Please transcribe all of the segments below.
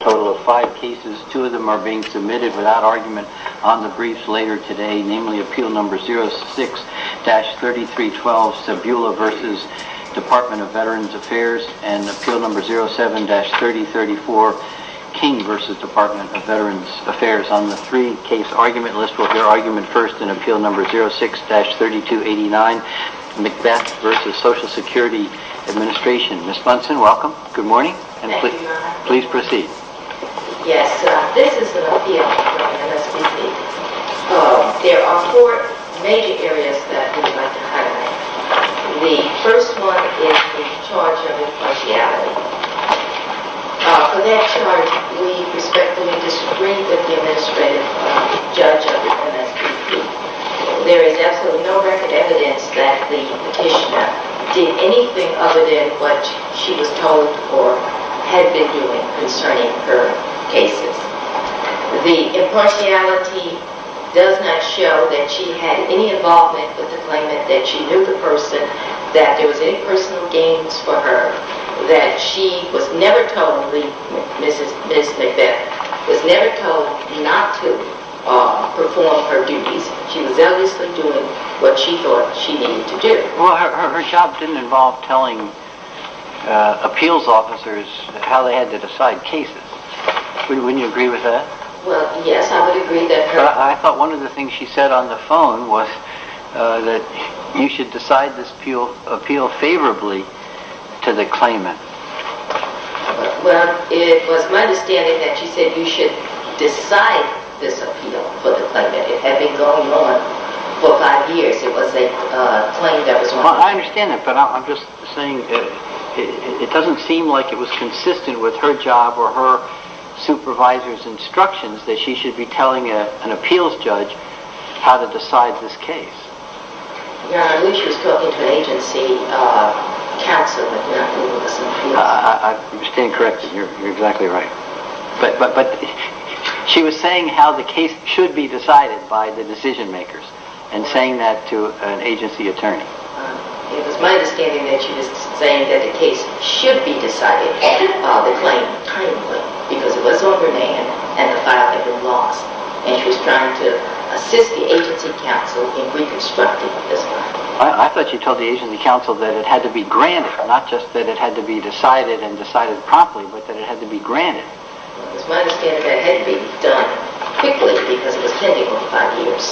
Total of 5 cases, 2 of them are being submitted without argument on the briefs later today. Namely, Appeal No. 06-3312, Sebula v. Department of Veterans Affairs. And Appeal No. 07-3034, King v. Department of Veterans Affairs. On the 3 case argument list, we'll hear argument first in Appeal No. 06-3289, McBeth v. Social Security Administration. Ms. Munson, welcome. Good morning. Thank you, Your Honor. Please proceed. Yes, this is an appeal from the MSVP. There are 4 major areas that we would like to highlight. The first one is the charge of impartiality. For that charge, we respectfully disagree with the administrative judge of the MSVP. There is absolutely no record evidence that the petitioner did anything other than what she was told or had been doing concerning her cases. The impartiality does not show that she had any involvement with the claimant, that she knew the person, that there was any personal gains for her, that she was never told, Ms. McBeth, was never told not to perform her duties. She was always doing what she thought she needed to do. Well, her job didn't involve telling appeals officers how they had to decide cases. Wouldn't you agree with that? Well, yes, I would agree that her... I thought one of the things she said on the phone was that you should decide this appeal favorably to the claimant. Well, it was my understanding that she said you should decide this appeal for the claimant. It had been going on for five years. It was a claim that was wanted. I understand that, but I'm just saying it doesn't seem like it was consistent with her job or her supervisor's instructions that she should be telling an appeals judge how to decide this case. I believe she was talking to an agency counsel. I understand correctly. You're exactly right. But she was saying how the case should be decided by the decision makers and saying that to an agency attorney. It was my understanding that she was saying that the case should be decided and filed the claim timely because it was overdue and the file had been lost. And she was trying to assist the agency counsel in reconstructing this file. I thought she told the agency counsel that it had to be granted, not just that it had to be decided and decided promptly, but that it had to be granted. It was my understanding that it had to be done quickly because it was pending for five years.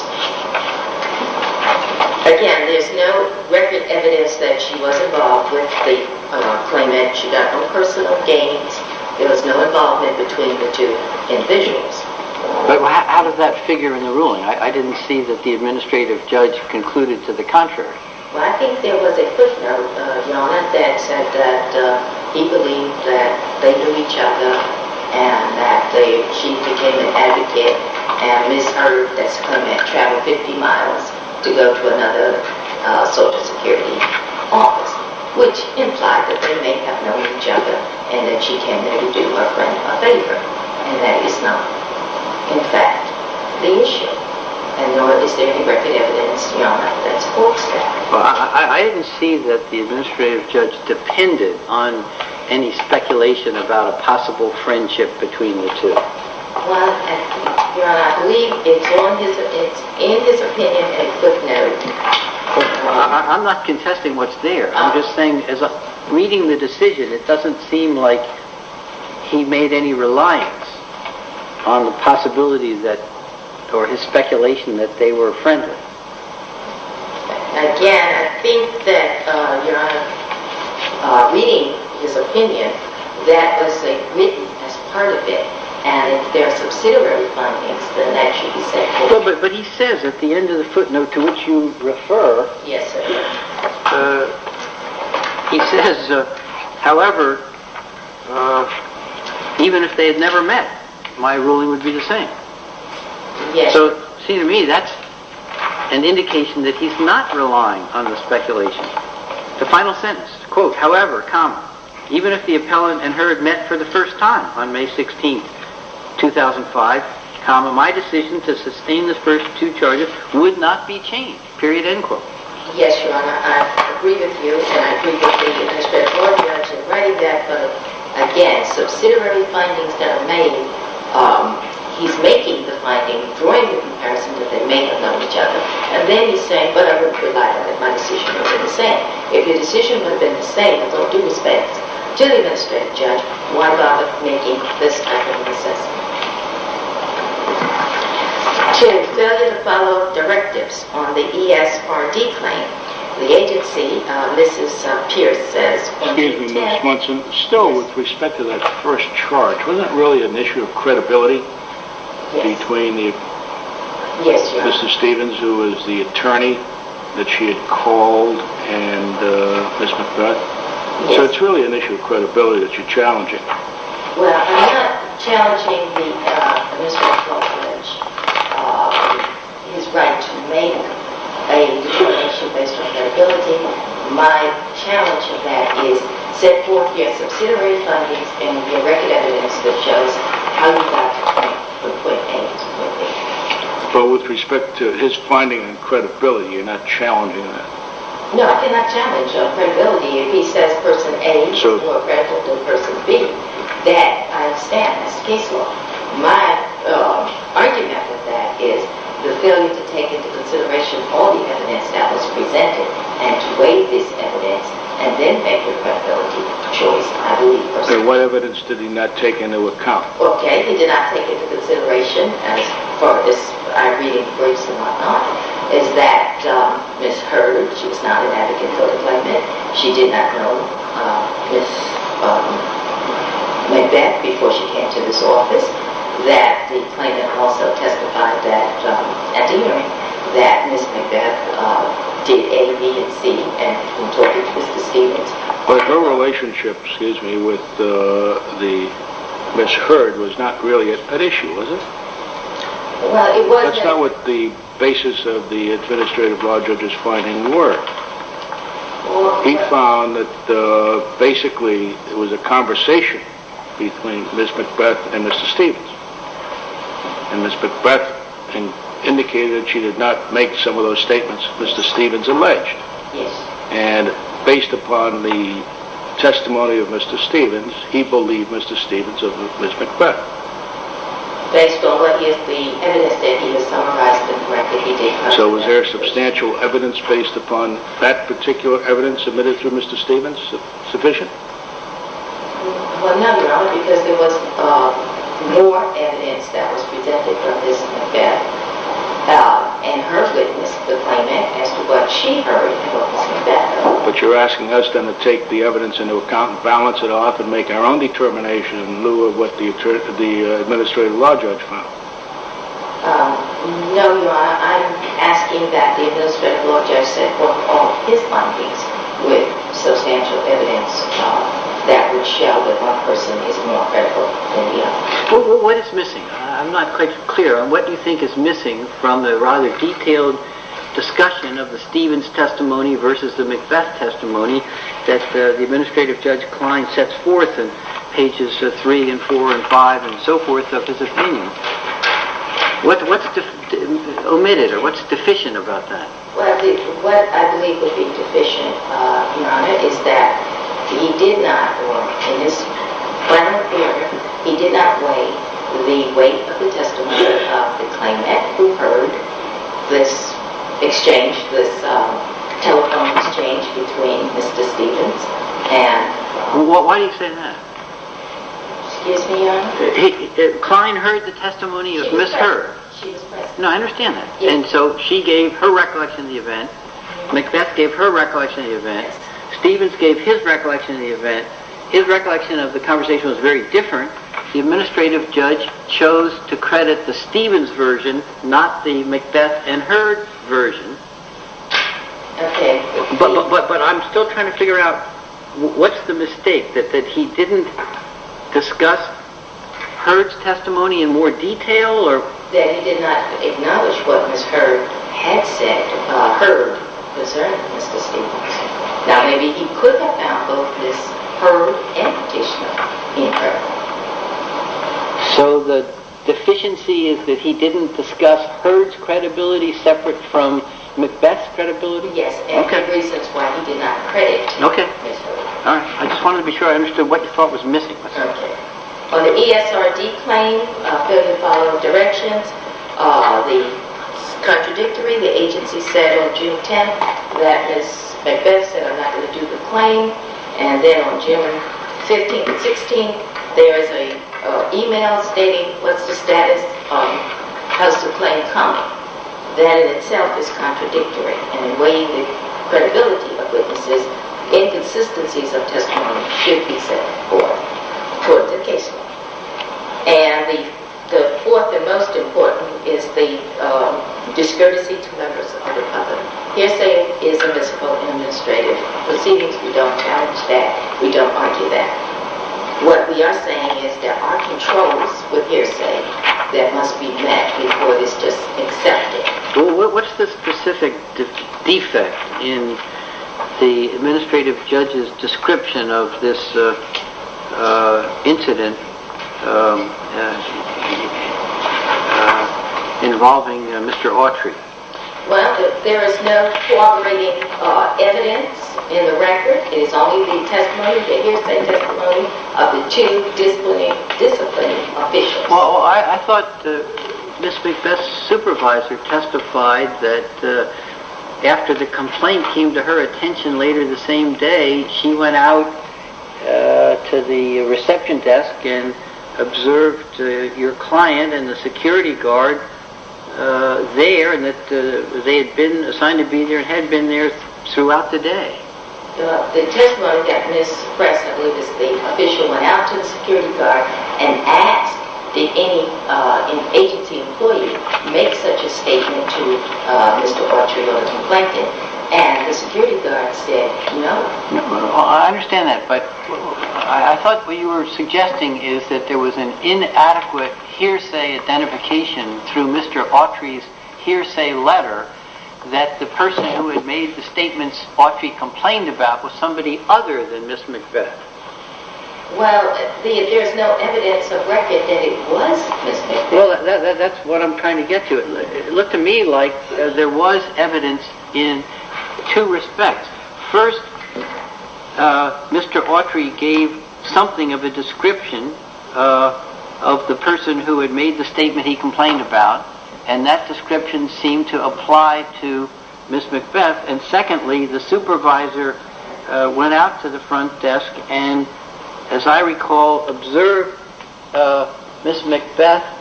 Again, there's no record evidence that she was involved with the claimant. She got no personal gains. There was no involvement between the two individuals. But how does that figure in the ruling? I didn't see that the administrative judge concluded to the contrary. Well, I think there was a footnote, Your Honor, that said that he believed that they knew each other and that she became an advocate and misheard that her man traveled 50 miles to go to another Social Security office, which implied that they may have known each other and that she tended to do her friend a favor. And that is not, in fact, the issue. And nor is there any record evidence that supports that. I didn't see that the administrative judge depended on any speculation about a possible friendship between the two. Your Honor, I believe it's in his opinion a footnote. I'm not contesting what's there. I'm just saying, reading the decision, it doesn't seem like he made any reliance on the possibility or his speculation that they were friends. Again, I think that, Your Honor, reading his opinion, that was admitted as part of it. And if there are subsidiary findings, then that should be said. But he says at the end of the footnote to which you refer, he says, however, even if they had never met, my ruling would be the same. So, see to me, that's an indication that he's not relying on the speculation. The final sentence, quote, however, comma, even if the appellant and her had met for the first time on May 16, 2005, comma, my decision to sustain the first two charges would not be changed, period, end quote. Yes, Your Honor, I agree with you, and I agree with the administrative court judge in writing that, but again, subsidiary findings that are made, he's making the finding, drawing the comparison that they may have known each other, and then he's saying, but I wouldn't rely on it if my decision had been the same. If your decision would have been the same, in both due respects, to the administrative judge, why bother making this type of assessment? Jim, failure to follow directives on the ESRD claim, the agency, Mrs. Pierce says, Excuse me, Ms. Munson, still with respect to that first charge, wasn't it really an issue of credibility? Yes. Yes, Your Honor. So it's really an issue of credibility that you're challenging. Well, I'm not challenging the administrative court judge, his right to make a determination based on credibility. My challenge of that is set forth your subsidiary findings and your record evidence that shows how you got to point from point A to point B. But with respect to his finding on credibility, you're not challenging that? No, I cannot challenge on credibility if he says person A is more credible than person B. That, I understand, is case law. My argument with that is the failure to take into consideration all the evidence that was presented and to weigh this evidence and then make a credibility choice, I believe. And what evidence did he not take into account? Okay, he did not take into consideration, as far as I read in the briefs and whatnot, is that Ms. Hurd, she was not an advocate for the claimant, she did not know Ms. Macbeth before she came to this office, that the claimant also testified that, at the hearing, that Ms. Macbeth did A, B, and C and contorted Mr. Stevens. But her relationship with Ms. Hurd was not really at issue, was it? That's not what the basis of the administrative law judge's finding were. He found that basically it was a conversation between Ms. Macbeth and Mr. Stevens. And Ms. Macbeth indicated that she did not make some of those statements Mr. Stevens alleged. Yes. And based upon the testimony of Mr. Stevens, he believed Mr. Stevens over Ms. Macbeth. Based on what is the evidence that he has summarized and corrected, he did not. So was there substantial evidence based upon that particular evidence submitted through Mr. Stevens sufficient? Well, no, Your Honor, because there was more evidence that was presented from Ms. Macbeth and her witness, the claimant, as to what she heard from Ms. Macbeth. But you're asking us then to take the evidence into account and balance it off and make our own determination in lieu of what the administrative law judge found. No, Your Honor, I'm asking that the administrative law judge set forth all his findings with substantial evidence that would show that one person is more credible than the other. What is missing? I'm not quite clear. What do you think is missing from the rather detailed discussion of the Stevens testimony versus the Macbeth testimony that the administrative judge Klein sets forth in pages 3 and 4 and 5 and so forth of his opinion? What's omitted or what's deficient about that? What I believe would be deficient, Your Honor, is that he did not weigh the weight of the testimony of the claimant who heard this telephone exchange between Mr. Stevens and… Why do you say that? Excuse me, Your Honor? Klein heard the testimony of Ms. Herb. She was present. No, I understand that. And so she gave her recollection of the event. Macbeth gave her recollection of the event. Stevens gave his recollection of the event. His recollection of the conversation was very different. The administrative judge chose to credit the Stevens version, not the Macbeth and Herb version. But I'm still trying to figure out what's the mistake, that he didn't discuss Herb's testimony in more detail? That he did not acknowledge what Ms. Herb had said about Herb's concern, Mr. Stevens. Now, maybe he could have found both this Herb and additional in Herb. So the deficiency is that he didn't discuss Herb's credibility separate from Macbeth's credibility? Yes, and the reason is why he did not credit Ms. Herb. Okay. I just wanted to be sure I understood what you thought was missing. Okay. On the ESRD claim, fill in the following directions. The contradictory, the agency said on June 10th that Ms. Macbeth said, I'm not going to do the claim. And then on June 15th and 16th, there is an email stating, what's the status, has the claim come? That in itself is contradictory. And in weighing the credibility of witnesses, inconsistencies of testimony should be set forth toward the case law. And the fourth and most important is the discourtesy to members of the public. Hearsay is a municipal administrative proceedings. We don't challenge that. We don't argue that. What we are saying is there are controls with hearsay that must be met before this is accepted. What's the specific defect in the administrative judge's description of this incident involving Mr. Autry? Well, there is no cooperating evidence in the record. It is only the testimony, the hearsay testimony of the two disciplining officials. Well, I thought Ms. Macbeth's supervisor testified that after the complaint came to her attention later the same day, she went out to the reception desk and observed your client and the security guard there, and that they had been assigned to be there and had been there throughout the day. The testimony that Ms. Press, I believe is the official, went out to the security guard and asked did any agency employee make such a statement to Mr. Autry on the complaint day, and the security guard said no. I understand that, but I thought what you were suggesting is that there was an inadequate hearsay identification through Mr. Autry's hearsay letter that the person who had made the statements Autry complained about was somebody other than Ms. Macbeth. Well, there's no evidence of record that it was Ms. Macbeth. Well, that's what I'm trying to get to. It looked to me like there was evidence in two respects. First, Mr. Autry gave something of a description of the person who had made the statement he complained about, and that description seemed to apply to Ms. Macbeth, and secondly, the supervisor went out to the front desk and, as I recall, observed Ms. Macbeth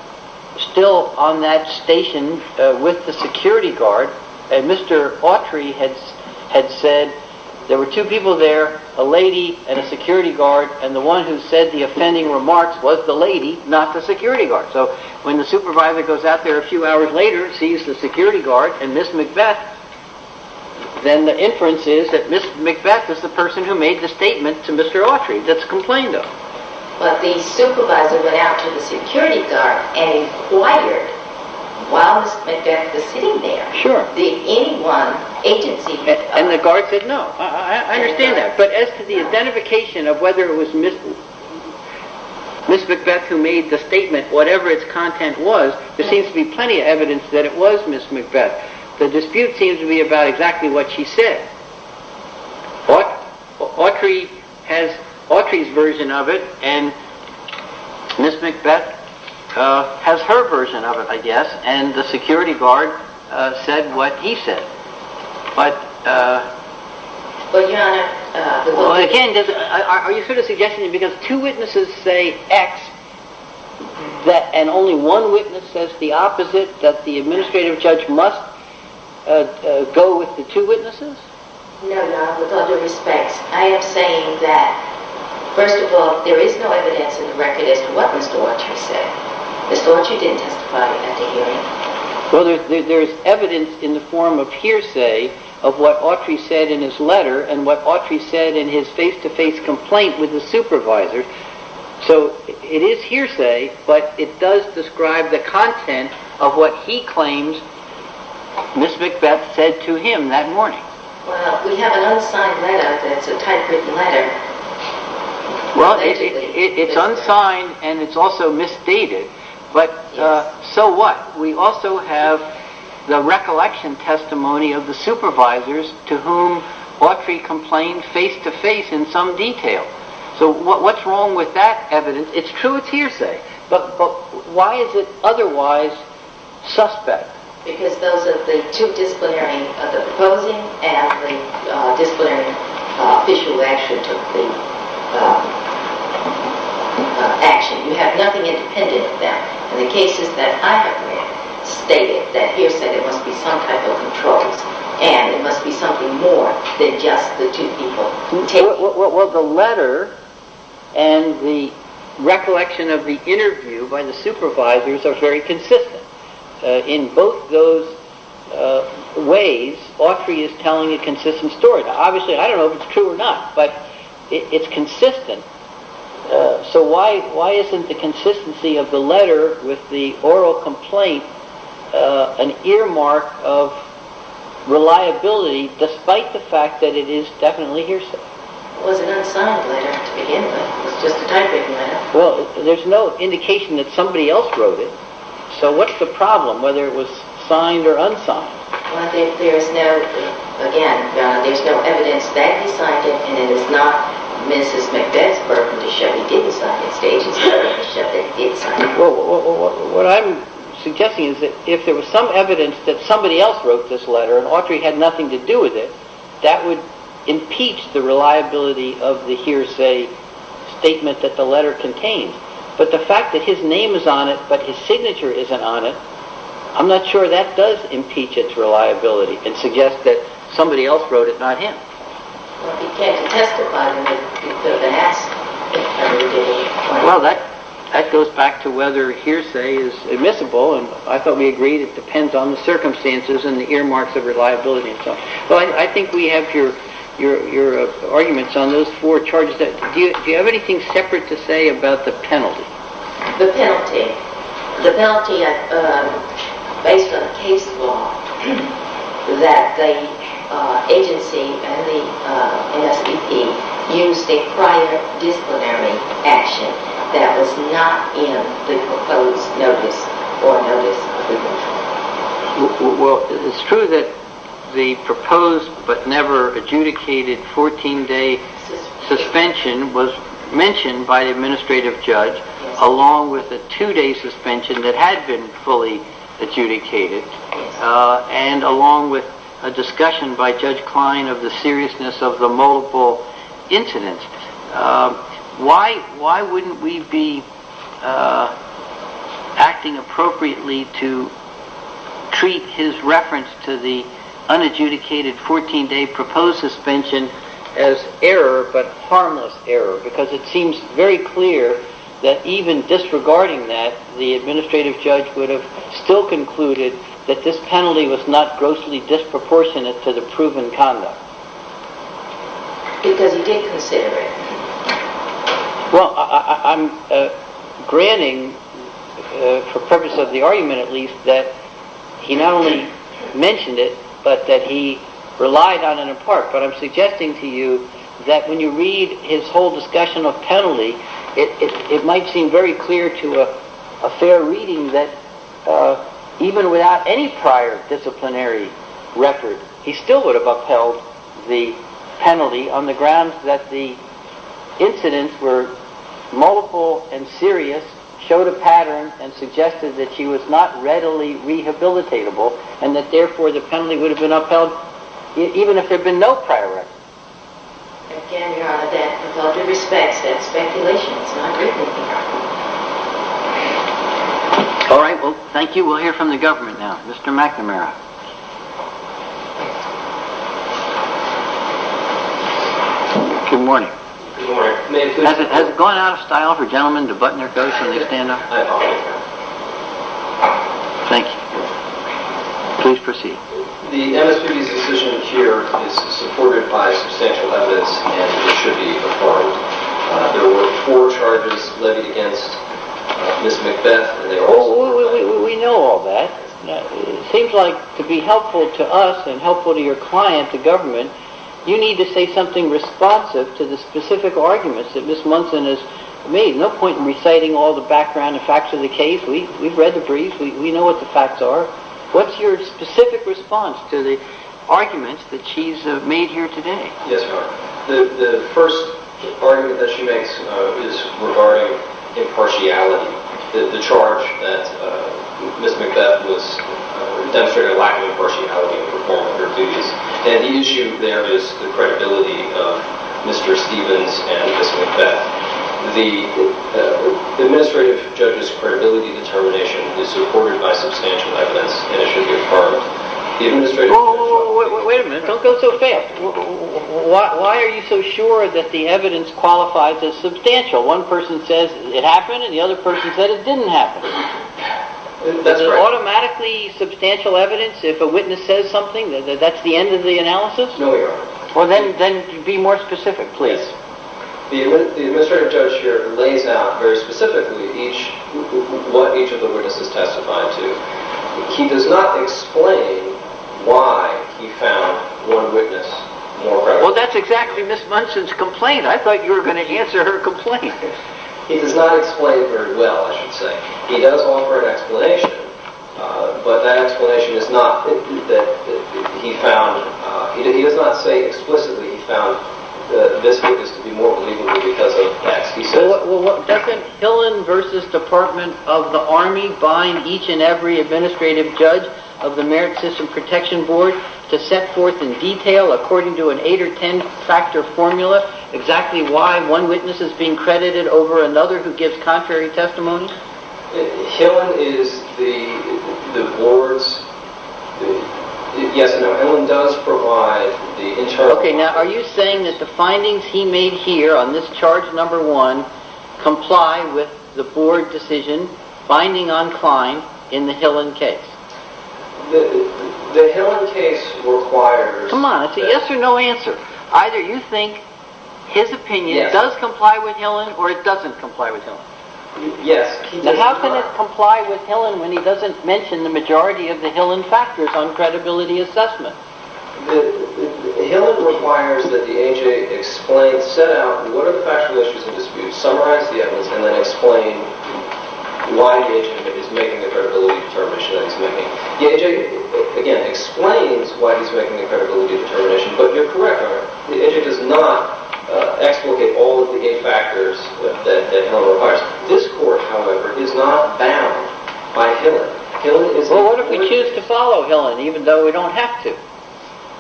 still on that station with the security guard, and Mr. Autry had said there were two people there, a lady and a security guard, and the one who said the offending remarks was the lady, not the security guard. So when the supervisor goes out there a few hours later and sees the security guard and Ms. Macbeth, then the inference is that Ms. Macbeth is the person who made the statement to Mr. Autry that's complained of. But the supervisor went out to the security guard and inquired while Ms. Macbeth was sitting there. And the guard said no. I understand that. But as to the identification of whether it was Ms. Macbeth who made the statement, whatever its content was, there seems to be plenty of evidence that it was Ms. Macbeth. The dispute seems to be about exactly what she said. Autry has Autry's version of it and Ms. Macbeth has her version of it, I guess, and the security guard said what he said. Are you sort of suggesting that because two witnesses say X and only one witness says the opposite, that the administrative judge must go with the two witnesses? No, no. With all due respect, I am saying that, first of all, there is no evidence in the record as to what Mr. Autry said. Mr. Autry didn't testify at the hearing. Well, there is evidence in the form of hearsay of what Autry said in his letter and what Autry said in his face-to-face complaint with the supervisor. So it is hearsay, but it does describe the content of what he claims Ms. Macbeth said to him that morning. Well, we have an unsigned letter that's a typewritten letter. Well, it's unsigned and it's also misstated, but so what? We also have the recollection testimony of the supervisors to whom Autry complained face-to-face in some detail. So what's wrong with that evidence? It's true, it's hearsay, but why is it otherwise suspect? Because those are the two disciplinary, the proposing and the disciplinary official who actually took the action. You have nothing independent of them. And the cases that I have read state that hearsay, there must be some type of controls and it must be something more than just the two people. Well, the letter and the recollection of the interview by the supervisors are very consistent. In both those ways, Autry is telling a consistent story. Obviously, I don't know if it's true or not, but it's consistent. So why isn't the consistency of the letter with the oral complaint an earmark of reliability despite the fact that it is definitely hearsay? It was an unsigned letter to begin with. It was just a typewritten letter. Well, there's no indication that somebody else wrote it. So what's the problem, whether it was signed or unsigned? Well, there's no, again, there's no evidence that he signed it and it is not Mrs. Macbeth's burden to show he didn't sign it. Well, what I'm suggesting is that if there was some evidence that somebody else wrote this letter and Autry had nothing to do with it, that would impeach the reliability of the hearsay statement that the letter contains. But the fact that his name is on it but his signature isn't on it, I'm not sure that does impeach its reliability and suggest that somebody else wrote it, not him. Well, if he can't testify, then that's a ridiculous point. Well, that goes back to whether hearsay is admissible. I thought we agreed it depends on the circumstances and the earmarks of reliability. Well, I think we have your arguments on those four charges. Do you have anything separate to say about the penalty? The penalty? The penalty, based on case law, that the agency and the NSVP used a prior disciplinary action that was not in the proposed notice or notice approval. Well, it's true that the proposed but never adjudicated 14-day suspension was mentioned by the administrative judge along with the two-day suspension that had been fully adjudicated and along with a discussion by Judge Klein of the seriousness of the multiple incidents. Why wouldn't we be acting appropriately to treat his reference to the unadjudicated 14-day proposed suspension as error but harmless error? Because it seems very clear that even disregarding that, the administrative judge would have still concluded that this penalty was not grossly disproportionate to the proven conduct. Because he did consider it. Well, I'm granting, for purpose of the argument at least, that he not only mentioned it but that he relied on it in part. But I'm suggesting to you that when you read his whole discussion of penalty, it might seem very clear to a fair reading that even without any prior disciplinary record, he still would have upheld the penalty on the grounds that the incidents were multiple and serious, showed a pattern and suggested that he was not readily rehabilitatable and that therefore the penalty would have been upheld even if there had been no prior record. Again, Your Honor, that, with all due respect, is speculation. It's not written here. All right. Well, thank you. We'll hear from the government now. Mr. McNamara. Good morning. Good morning. Has it gone out of style for gentlemen to button their coats when they stand up? I apologize, Your Honor. Thank you. Please proceed. The MSPB's decision here is supported by substantial evidence and it should be applauded. There were four charges levied against Ms. Macbeth. We know all that. It seems like to be helpful to us and helpful to your client, the government, you need to say something responsive to the specific arguments that Ms. Munson has made. No point in reciting all the background and facts of the case. We've read the brief. We know what the facts are. What's your specific response to the arguments that she's made here today? Yes, Your Honor. The first argument that she makes is regarding impartiality, the charge that Ms. Macbeth demonstrated a lack of impartiality in performing her duties. And the issue there is the credibility of Mr. Stevens and Ms. Macbeth. The administrative judge's credibility determination is supported by substantial evidence and it should be applauded. Wait a minute. Don't go so fast. Why are you so sure that the evidence qualifies as substantial? One person says it happened and the other person said it didn't happen. That's right. Is it automatically substantial evidence if a witness says something? That's the end of the analysis? No, Your Honor. Then be more specific, please. The administrative judge here lays out very specifically what each of the witnesses testified to. He does not explain why he found one witness more credible. Well, that's exactly Ms. Munson's complaint. I thought you were going to answer her complaint. He does not explain very well, I should say. He does offer an explanation, but that explanation is not that he found. He does not say explicitly he found this witness to be more believable because of that. Doesn't Hillen v. Department of the Army bind each and every administrative judge of the Merit System Protection Board to set forth in detail according to an eight or ten factor formula exactly why one witness is being credited over another who gives contrary testimony? Hillen is the board's... Yes, no, Hillen does provide the internal... Okay, now are you saying that the findings he made here on this charge number one comply with the board decision binding on Klein in the Hillen case? The Hillen case requires... Come on, it's a yes or no answer. Either you think his opinion does comply with Hillen or it doesn't comply with Hillen. Yes. Then how can it comply with Hillen when he doesn't mention the majority of the Hillen factors on credibility assessment? Hillen requires that the AJ set out what are the factual issues in dispute, summarize the evidence, and then explain why the AJ is making the credibility determination. The AJ, again, explains why he's making the credibility determination, but you're correct on that. The AJ does not explicate all of the eight factors that Hillen requires. This court, however, is not bound by Hillen. Well, what if we choose to follow Hillen even though we don't have to?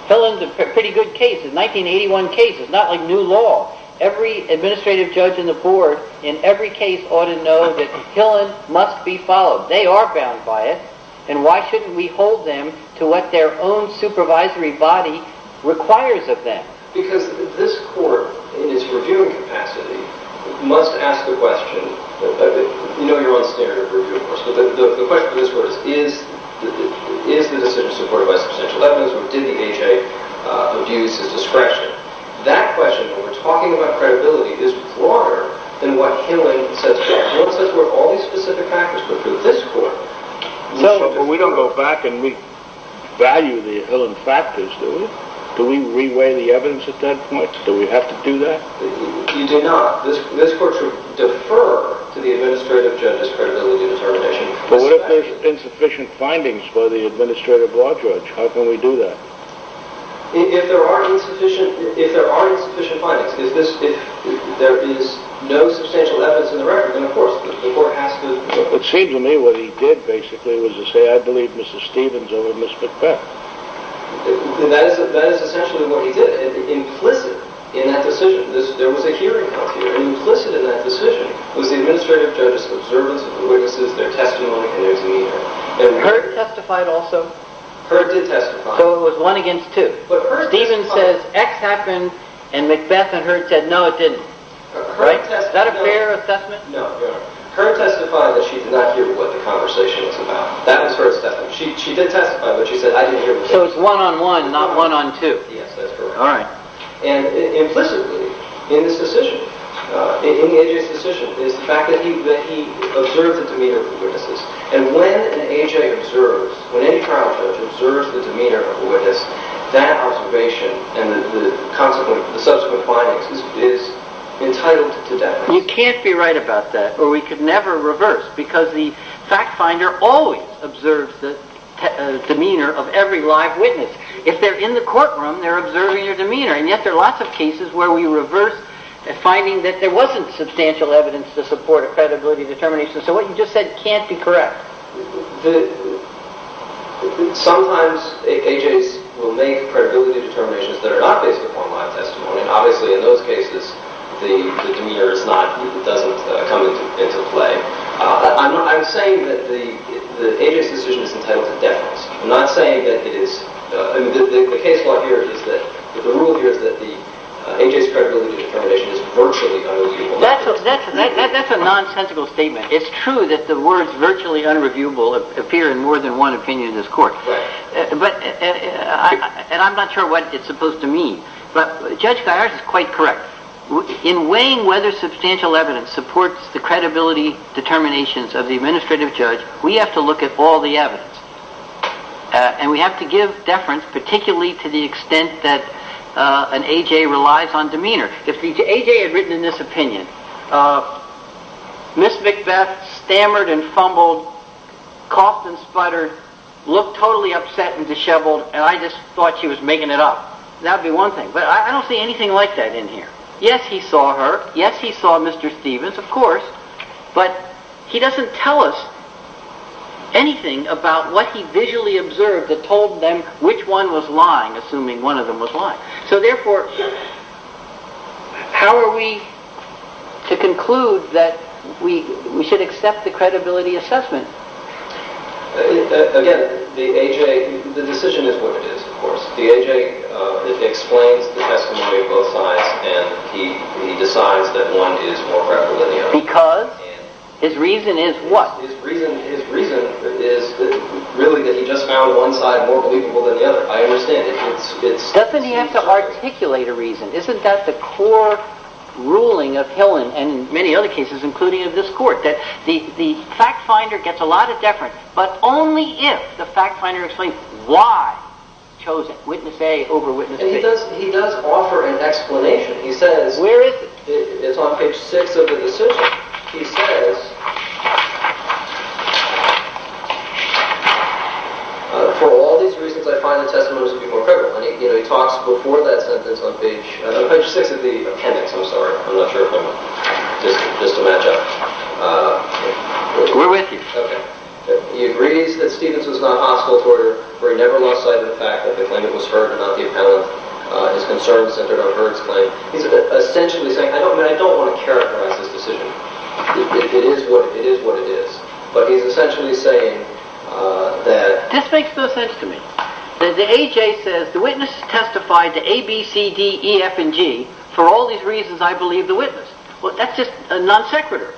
Hillen's a pretty good case. It's a 1981 case. It's not like new law. Every administrative judge in the board in every case ought to know that Hillen must be followed. They are bound by it, and why shouldn't we hold them to what their own supervisory body requires of them? Because this court, in its reviewing capacity, must ask the question... You know you're on standard review, of course, but the question for this court is, is the decision supported by substantial evidence or did the AJ abuse his discretion? That question, when we're talking about credibility, is broader than what Hillen says. Hillen says we have all these specific factors, but for this court... But we don't go back and revalue the Hillen factors, do we? Do we reweigh the evidence at that point? Do we have to do that? You do not. This court should defer to the administrative judge's credibility determination. But what if there's insufficient findings by the administrative law judge? How can we do that? If there are insufficient findings, if there is no substantial evidence in the record, then of course the court has to... It seems to me what he did, basically, was to say, I believe Mrs. Stevens over Ms. McBeth. That is essentially what he did, implicit in that decision. There was a hearing out here, and implicit in that decision was the administrative judge's observance of the witnesses, their testimony, and their demeanor. And Hurd testified also. Hurd did testify. So it was one against two. Stevens says X happened, and McBeth and Hurd said no, it didn't. Is that a fair assessment? No. Hurd testified that she did not hear what the conversation was about. That was Hurd's testimony. She did testify, but she said, I didn't hear the testimony. So it's one-on-one, not one-on-two. Yes, that's correct. And implicitly, in this decision, in AJ's decision, is the fact that he observed the demeanor of the witnesses. And when an AJ observes, when any trial judge observes the demeanor of a witness, that observation and the subsequent findings is entitled to death. You can't be right about that, or we could never reverse, because the fact finder always observes the demeanor of every live witness. If they're in the courtroom, they're observing your demeanor. And yet there are lots of cases where we reverse a finding that there wasn't substantial evidence to support a credibility determination. So what you just said can't be correct. Sometimes AJs will make credibility determinations that are not based upon live testimony. Obviously, in those cases, the demeanor doesn't come into play. I'm saying that the AJ's decision is entitled to death. I'm not saying that it is. The case law here is that the rule here is that the AJ's credibility determination is virtually unreliable. That's a nonsensical statement. It's true that the words virtually unreviewable appear in more than one opinion in this court. And I'm not sure what it's supposed to mean. But Judge Guyars is quite correct. In weighing whether substantial evidence supports the credibility determinations of the administrative judge, we have to look at all the evidence. And we have to give deference, particularly to the extent that an AJ relies on demeanor. If AJ had written in this opinion, Ms. Macbeth stammered and fumbled, coughed and sputtered, looked totally upset and disheveled, and I just thought she was making it up. That would be one thing. But I don't see anything like that in here. Yes, he saw her. Yes, he saw Mr. Stevens, of course. But he doesn't tell us anything about what he visually observed that told them which one was lying, assuming one of them was lying. So therefore, how are we to conclude that we should accept the credibility assessment? The decision is what it is, of course. The AJ explains the testimony of both sides, and he decides that one is more credible than the other. Because? His reason is what? His reason is really that he just found one side more believable than the other. Doesn't he have to articulate a reason? Isn't that the core ruling of Hill and many other cases, including of this court? The fact finder gets a lot of deference, but only if the fact finder explains why he chose witness A over witness B. He does offer an explanation. Where is it? It's on page 6 of the decision. He says, for all these reasons, I find the testimony to be more credible. And he talks before that sentence on page 6 of the appendix. I'm sorry. I'm not sure. Just to match up. We're with you. Okay. He agrees that Stevens was not hostile toward her, for he never lost sight of the fact that the claimant was heard and not the appellant. His concerns centered on Heard's claim. I don't want to characterize this decision. It is what it is. But he's essentially saying that... This makes no sense to me. The witness testified to A, B, C, D, E, F, and G for all these reasons I believe the witness. That's just a non sequitur.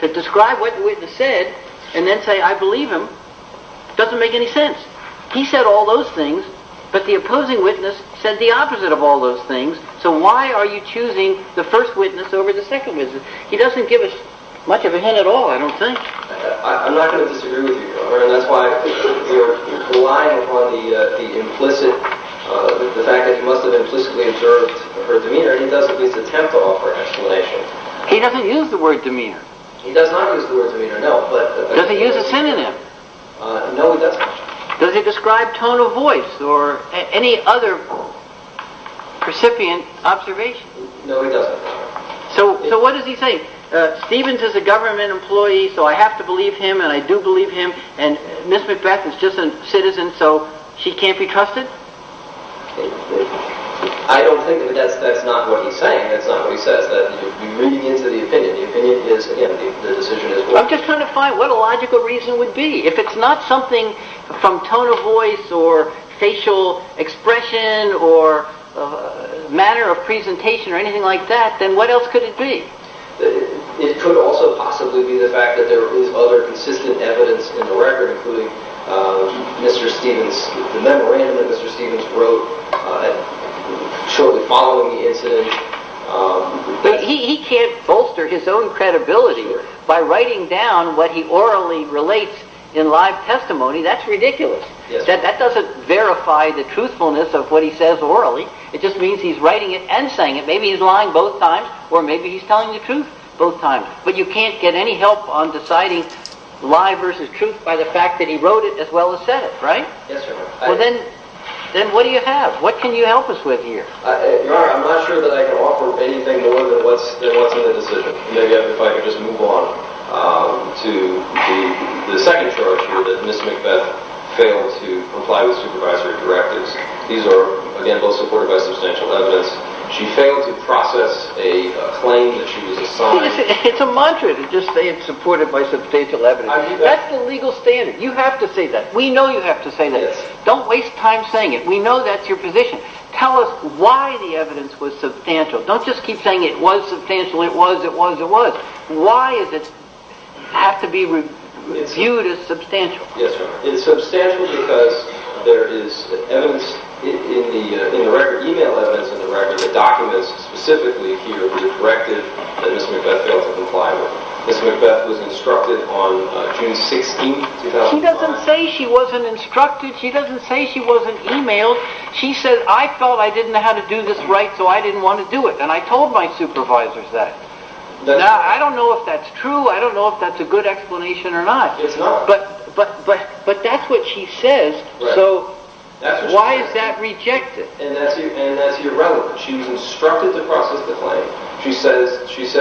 To describe what the witness said and then say I believe him doesn't make any sense. He said all those things, but the opposing witness said the opposite of all those things. So why are you choosing the first witness over the second witness? He doesn't give us much of a hint at all, I don't think. I'm not going to disagree with you. That's why you're relying upon the fact that he must have implicitly observed her demeanor. He doesn't at least attempt to offer an explanation. He doesn't use the word demeanor. He does not use the word demeanor, no. Does he use a synonym? No, he doesn't. Does he describe tone of voice or any other precipient observation? No, he doesn't. So what does he say? Stephens is a government employee so I have to believe him and I do believe him and Ms. Macbeth is just a citizen so she can't be trusted? I don't think that's not what he's saying. That's not what he says. You're moving into the opinion. The opinion is him. The decision is what? I'm just trying to find what a logical reason would be. If it's not something from tone of voice or facial expression or manner of presentation or anything like that, then what else could it be? It could also possibly be the fact that there is other consistent evidence in the record including Mr. Stephens' memorandum that Mr. Stephens wrote shortly following the incident. He can't bolster his own credibility by writing down what he orally relates in live testimony. That's ridiculous. That doesn't verify the truthfulness of what he says orally. It just means he's writing it and saying it. Maybe he's lying both times or maybe he's telling the truth both times. But you can't get any help on deciding lie versus truth by the fact that he wrote it as well as said it, right? Yes, sir. Then what do you have? What can you help us with here? Your Honor, I'm not sure that I can offer anything more than what's in the decision. Maybe if I could just move on to the second charge where Ms. Macbeth failed to comply with supervisory directives. These are, again, both supported by substantial evidence. She failed to process a claim that she was assigned. It's a mantra to just say it's supported by substantial evidence. That's the legal standard. You have to say that. We know you have to say that. Don't waste time saying it. We know that's your position. Tell us why the evidence was substantial. Don't just keep saying it was substantial, it was, it was, it was. Why does it have to be viewed as substantial? Yes, sir. It's substantial because there is evidence in the record, e-mail evidence in the record, the documents specifically here with the directive that Ms. Macbeth failed to comply with. Ms. Macbeth was instructed on June 16, 2005. She doesn't say she wasn't instructed. She doesn't say she wasn't e-mailed. She says, I felt I didn't know how to do this right, so I didn't want to do it, and I told my supervisors that. Now, I don't know if that's true. I don't know if that's a good explanation or not. It's not. But that's what she says, so why is that rejected? And that's irrelevant. She was instructed to process the claim. She said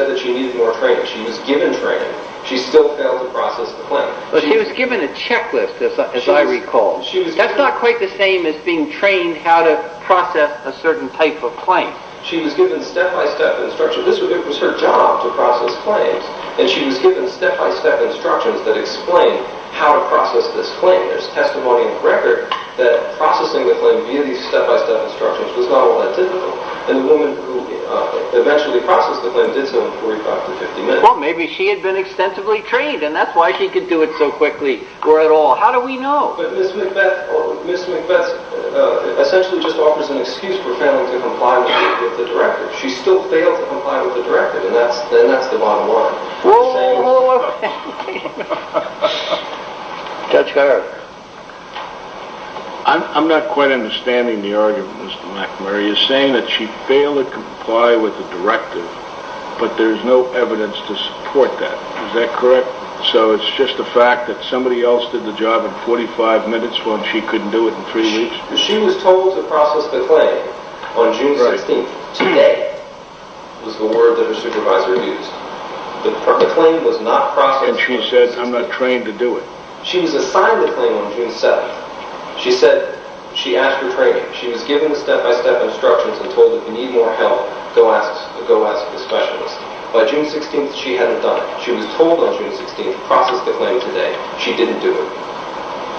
that she needed more training. She was given training. She still failed to process the claim. But she was given a checklist, as I recall. That's not quite the same as being trained how to process a certain type of claim. She was given step-by-step instructions. It was her job to process claims, and she was given step-by-step instructions that explained how to process this claim. There's testimony in the record that processing the claim via these step-by-step instructions was not all that difficult, and the woman who eventually processed the claim did so in 45 to 50 minutes. Well, maybe she had been extensively trained, and that's why she could do it so quickly or at all. How do we know? But Ms. McBeth essentially just offers an excuse for failing to comply with the directive. She still failed to comply with the directive, and that's the bottom line. Whoa, whoa, whoa, whoa. Judge Geiger. I'm not quite understanding the argument, Mr. McNamara. You're saying that she failed to comply with the directive, but there's no evidence to support that. Is that correct? So it's just a fact that somebody else did the job in 45 minutes while she couldn't do it in three weeks? She was told to process the claim on June 16th. Today was the word that her supervisor used. The claim was not processed. And she said, I'm not trained to do it. She was assigned the claim on June 7th. She said she asked for training. She was given step-by-step instructions and told that if you need more help, go ask the specialist. By June 16th, she hadn't done it. She was told on June 16th to process the claim today. She didn't do it.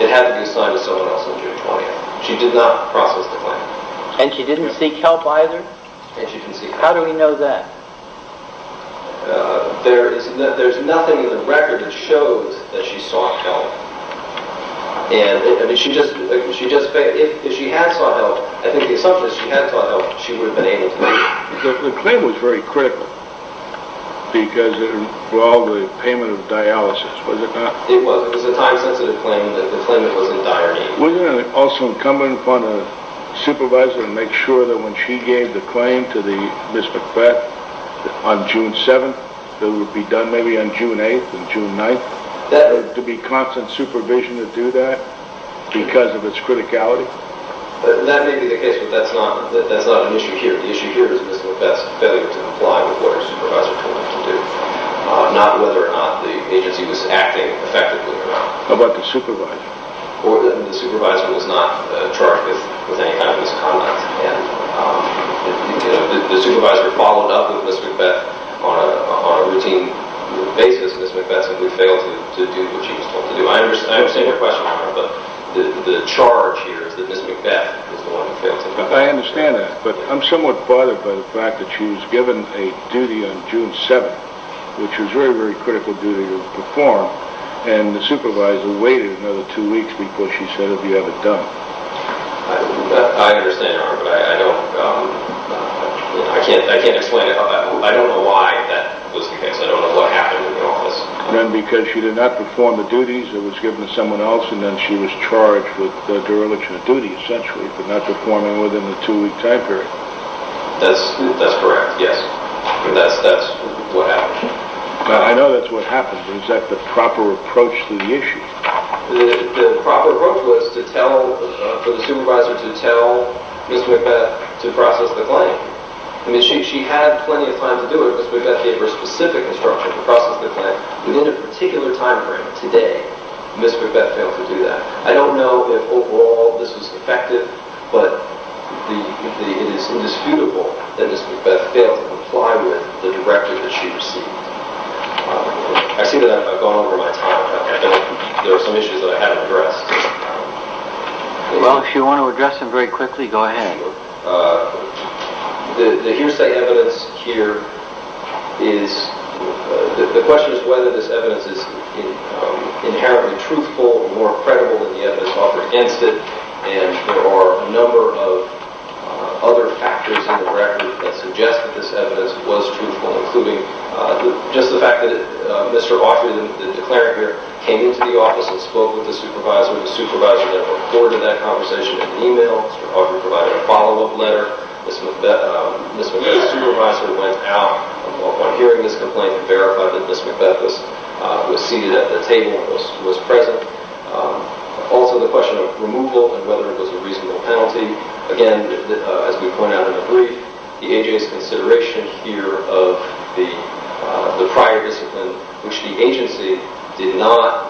It had to be assigned to someone else on June 20th. She did not process the claim. And she didn't seek help either? And she didn't seek help. How do we know that? There's nothing in the record that shows that she sought help. If she had sought help, I think the assumption is if she had sought help, she would have been able to do it. The claim was very critical because it involved the payment of dialysis, was it not? It was. It was a time-sensitive claim, the claim that was in dire need. Wasn't it also incumbent upon a supervisor to make sure that when she gave the claim to the Ms. McBeth on June 7th, it would be done maybe on June 8th and June 9th, to be constant supervision to do that because of its criticality? That may be the case, but that's not an issue here. The issue here is Ms. McBeth's failure to comply with what her supervisor told her to do, not whether or not the agency was acting effectively or not. How about the supervisor? The supervisor was not charged with any kind of misconduct. The supervisor followed up with Ms. McBeth on a routine basis. Ms. McBeth simply failed to do what she was told to do. I understand your question, Honor, but the charge here is that Ms. McBeth is the one who failed to do it. I understand that, but I'm somewhat bothered by the fact that she was given a duty on June 7th, which was a very, very critical duty to perform, and the supervisor waited another two weeks before she said, have you had it done? I understand, Your Honor, but I can't explain it. I don't know why that was the case. I don't know what happened in the office. Because she did not perform the duties that was given to someone else, and then she was charged with dereliction of duty, essentially, but not performing within the two-week time period. That's correct, yes. That's what happened. I know that's what happened, but is that the proper approach to the issue? The proper approach was for the supervisor to tell Ms. McBeth to process the claim. She had plenty of time to do it. Ms. McBeth gave her a specific instruction to process the claim. Within a particular time frame, today, Ms. McBeth failed to do that. I don't know if overall this was effective, but it is indisputable that Ms. McBeth failed to comply with the directive that she received. I see that I've gone over my time. I know there are some issues that I haven't addressed. Well, if you want to address them very quickly, go ahead. The hearsay evidence here is the question is whether this evidence is inherently truthful or more credible than the evidence offered against it, and there are a number of other factors in the record that suggest that this evidence was truthful, including just the fact that Mr. Offrey, the declarant here, came into the office and spoke with the supervisor. The supervisor then recorded that conversation in email. Mr. Offrey provided a follow-up letter. Ms. McBeth's supervisor went out on hearing this complaint and verified that Ms. McBeth was seated at the table and was present. Also the question of removal and whether it was a reasonable penalty. Again, as we point out in the brief, the agency's consideration here of the prior discipline, which the agency did not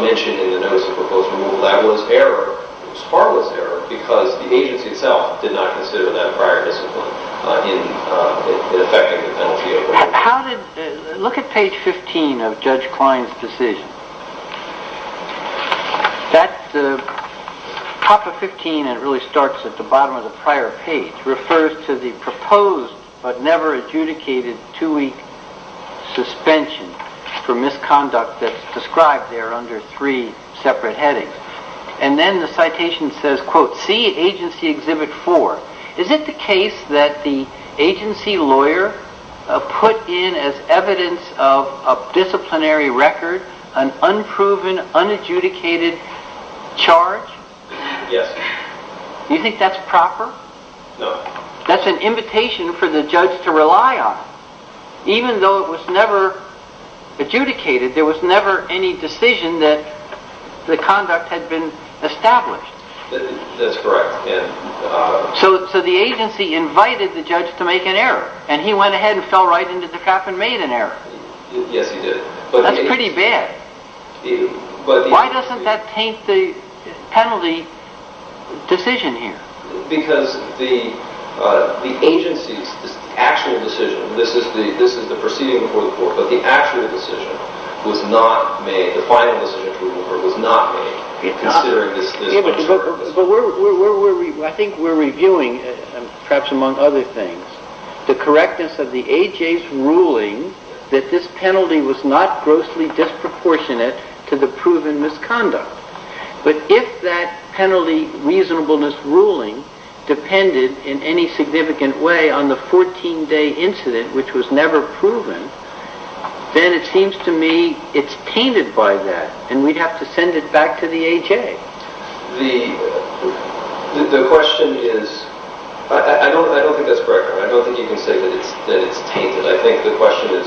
mention in the notice of proposed removal, that was error. It was harmless error because the agency itself did not consider that prior discipline in effecting the penalty. Look at page 15 of Judge Klein's decision. The top of 15, and it really starts at the bottom of the prior page, refers to the proposed but never adjudicated two-week suspension for misconduct that's described there under three separate headings. Then the citation says, quote, see agency exhibit four. Is it the case that the agency lawyer put in as evidence of a disciplinary record an unproven, unadjudicated charge? Yes. Do you think that's proper? No. That's an invitation for the judge to rely on. Even though it was never adjudicated, there was never any decision that the conduct had been established. That's correct. So the agency invited the judge to make an error, and he went ahead and fell right into the trap and made an error. Yes, he did. That's pretty bad. Why doesn't that taint the penalty decision here? Because the agency's actual decision, this is the proceeding before the court, but the actual decision was not made, the final decision approval, was not made considering this concern. I think we're reviewing, perhaps among other things, the correctness of the AJ's ruling that this penalty was not grossly disproportionate to the proven misconduct. But if that penalty reasonableness ruling depended in any significant way on the 14-day incident, which was never proven, then it seems to me it's tainted by that, and we'd have to send it back to the AJ. The question is, I don't think that's correct. I don't think you can say that it's tainted. I think the question is,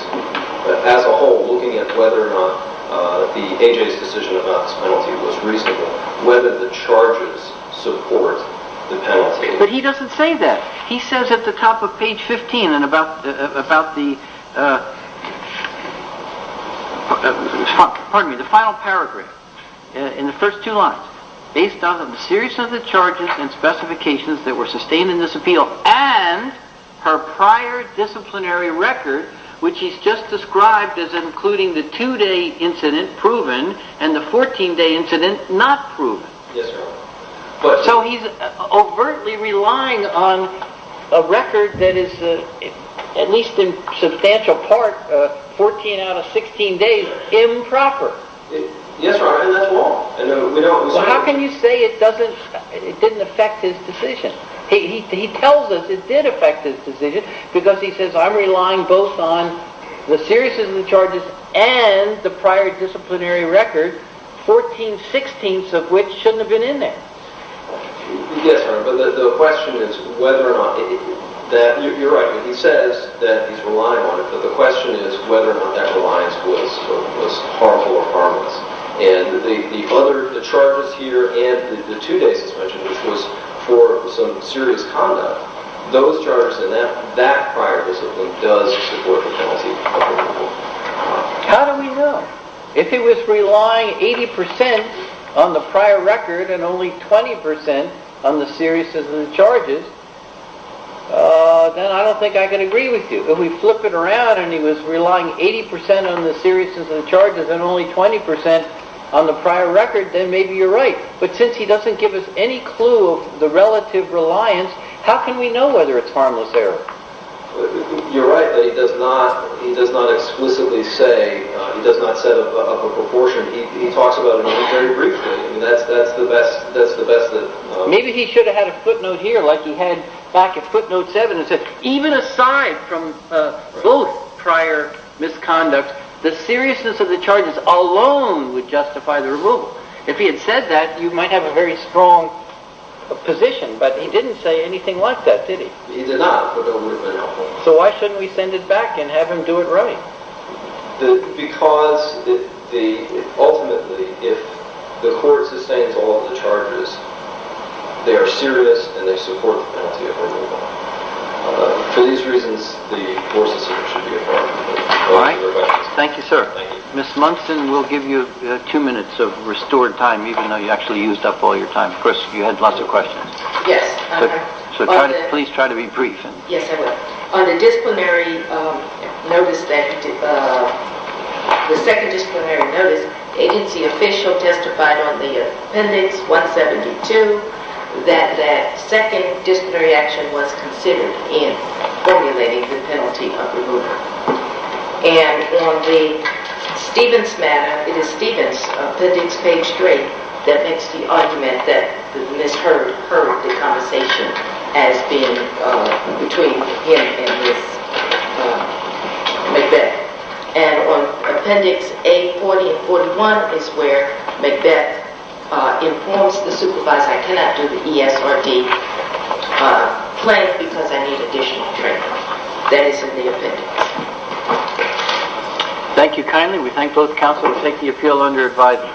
as a whole, looking at whether or not the AJ's decision about this penalty was reasonable, whether the charges support the penalty. But he doesn't say that. He says at the top of page 15 about the final paragraph in the first two lines, based on the series of the charges and specifications that were sustained in this appeal and her prior disciplinary record, which he's just described as including the two-day incident proven and the 14-day incident not proven. Yes, sir. So he's overtly relying on a record that is, at least in substantial part, 14 out of 16 days improper. Yes, sir, and that's wrong. How can you say it didn't affect his decision? He tells us it did affect his decision because he says, I'm relying both on the series of the charges and the prior disciplinary record, 14-16ths of which shouldn't have been in there. Yes, but the question is whether or not that, you're right, he says that he's relying on it, but the question is whether or not that reliance was harmful or harmless. And the other charges here and the two days he's mentioned, which was for some serious conduct, those charges and that prior discipline does support the penalty. How do we know? If he was relying 80% on the prior record and only 20% on the series of the charges, then I don't think I can agree with you. If we flip it around and he was relying 80% on the series of the charges and only 20% on the prior record, then maybe you're right. But since he doesn't give us any clue of the relative reliance, how can we know whether it's harmless error? You're right, but he does not explicitly say, he does not set up a proportion. He talks about it only very briefly. That's the best that… Maybe he should have had a footnote here like he had back at footnote 7. Even aside from both prior misconduct, the seriousness of the charges alone would justify the removal. If he had said that, you might have a very strong position, but he didn't say anything like that, did he? He did not, but that would have been helpful. So why shouldn't we send it back and have him do it right? Because ultimately, if the court sustains all of the charges, they are serious and they support the penalty of removal. For these reasons, the more sincere should be informed. Thank you, sir. Ms. Munson, we'll give you two minutes of restored time, even though you actually used up all your time. Of course, you had lots of questions. Yes. So please try to be brief. Yes, I will. On the disciplinary notice, the second disciplinary notice, agency official testified on the appendix 172 that that second disciplinary action was considered in formulating the penalty of removal. And on the Stevens matter, it is Stevens, appendix page 3, that makes the argument that Ms. Hurd, the conversation has been between him and Ms. Macbeth. And on appendix A40 and 41 is where Macbeth informs the supervisor I cannot do the ESRD claim because I need additional training. That is in the appendix. Thank you kindly. We thank both counsel for taking the appeal under advisement. Thank you.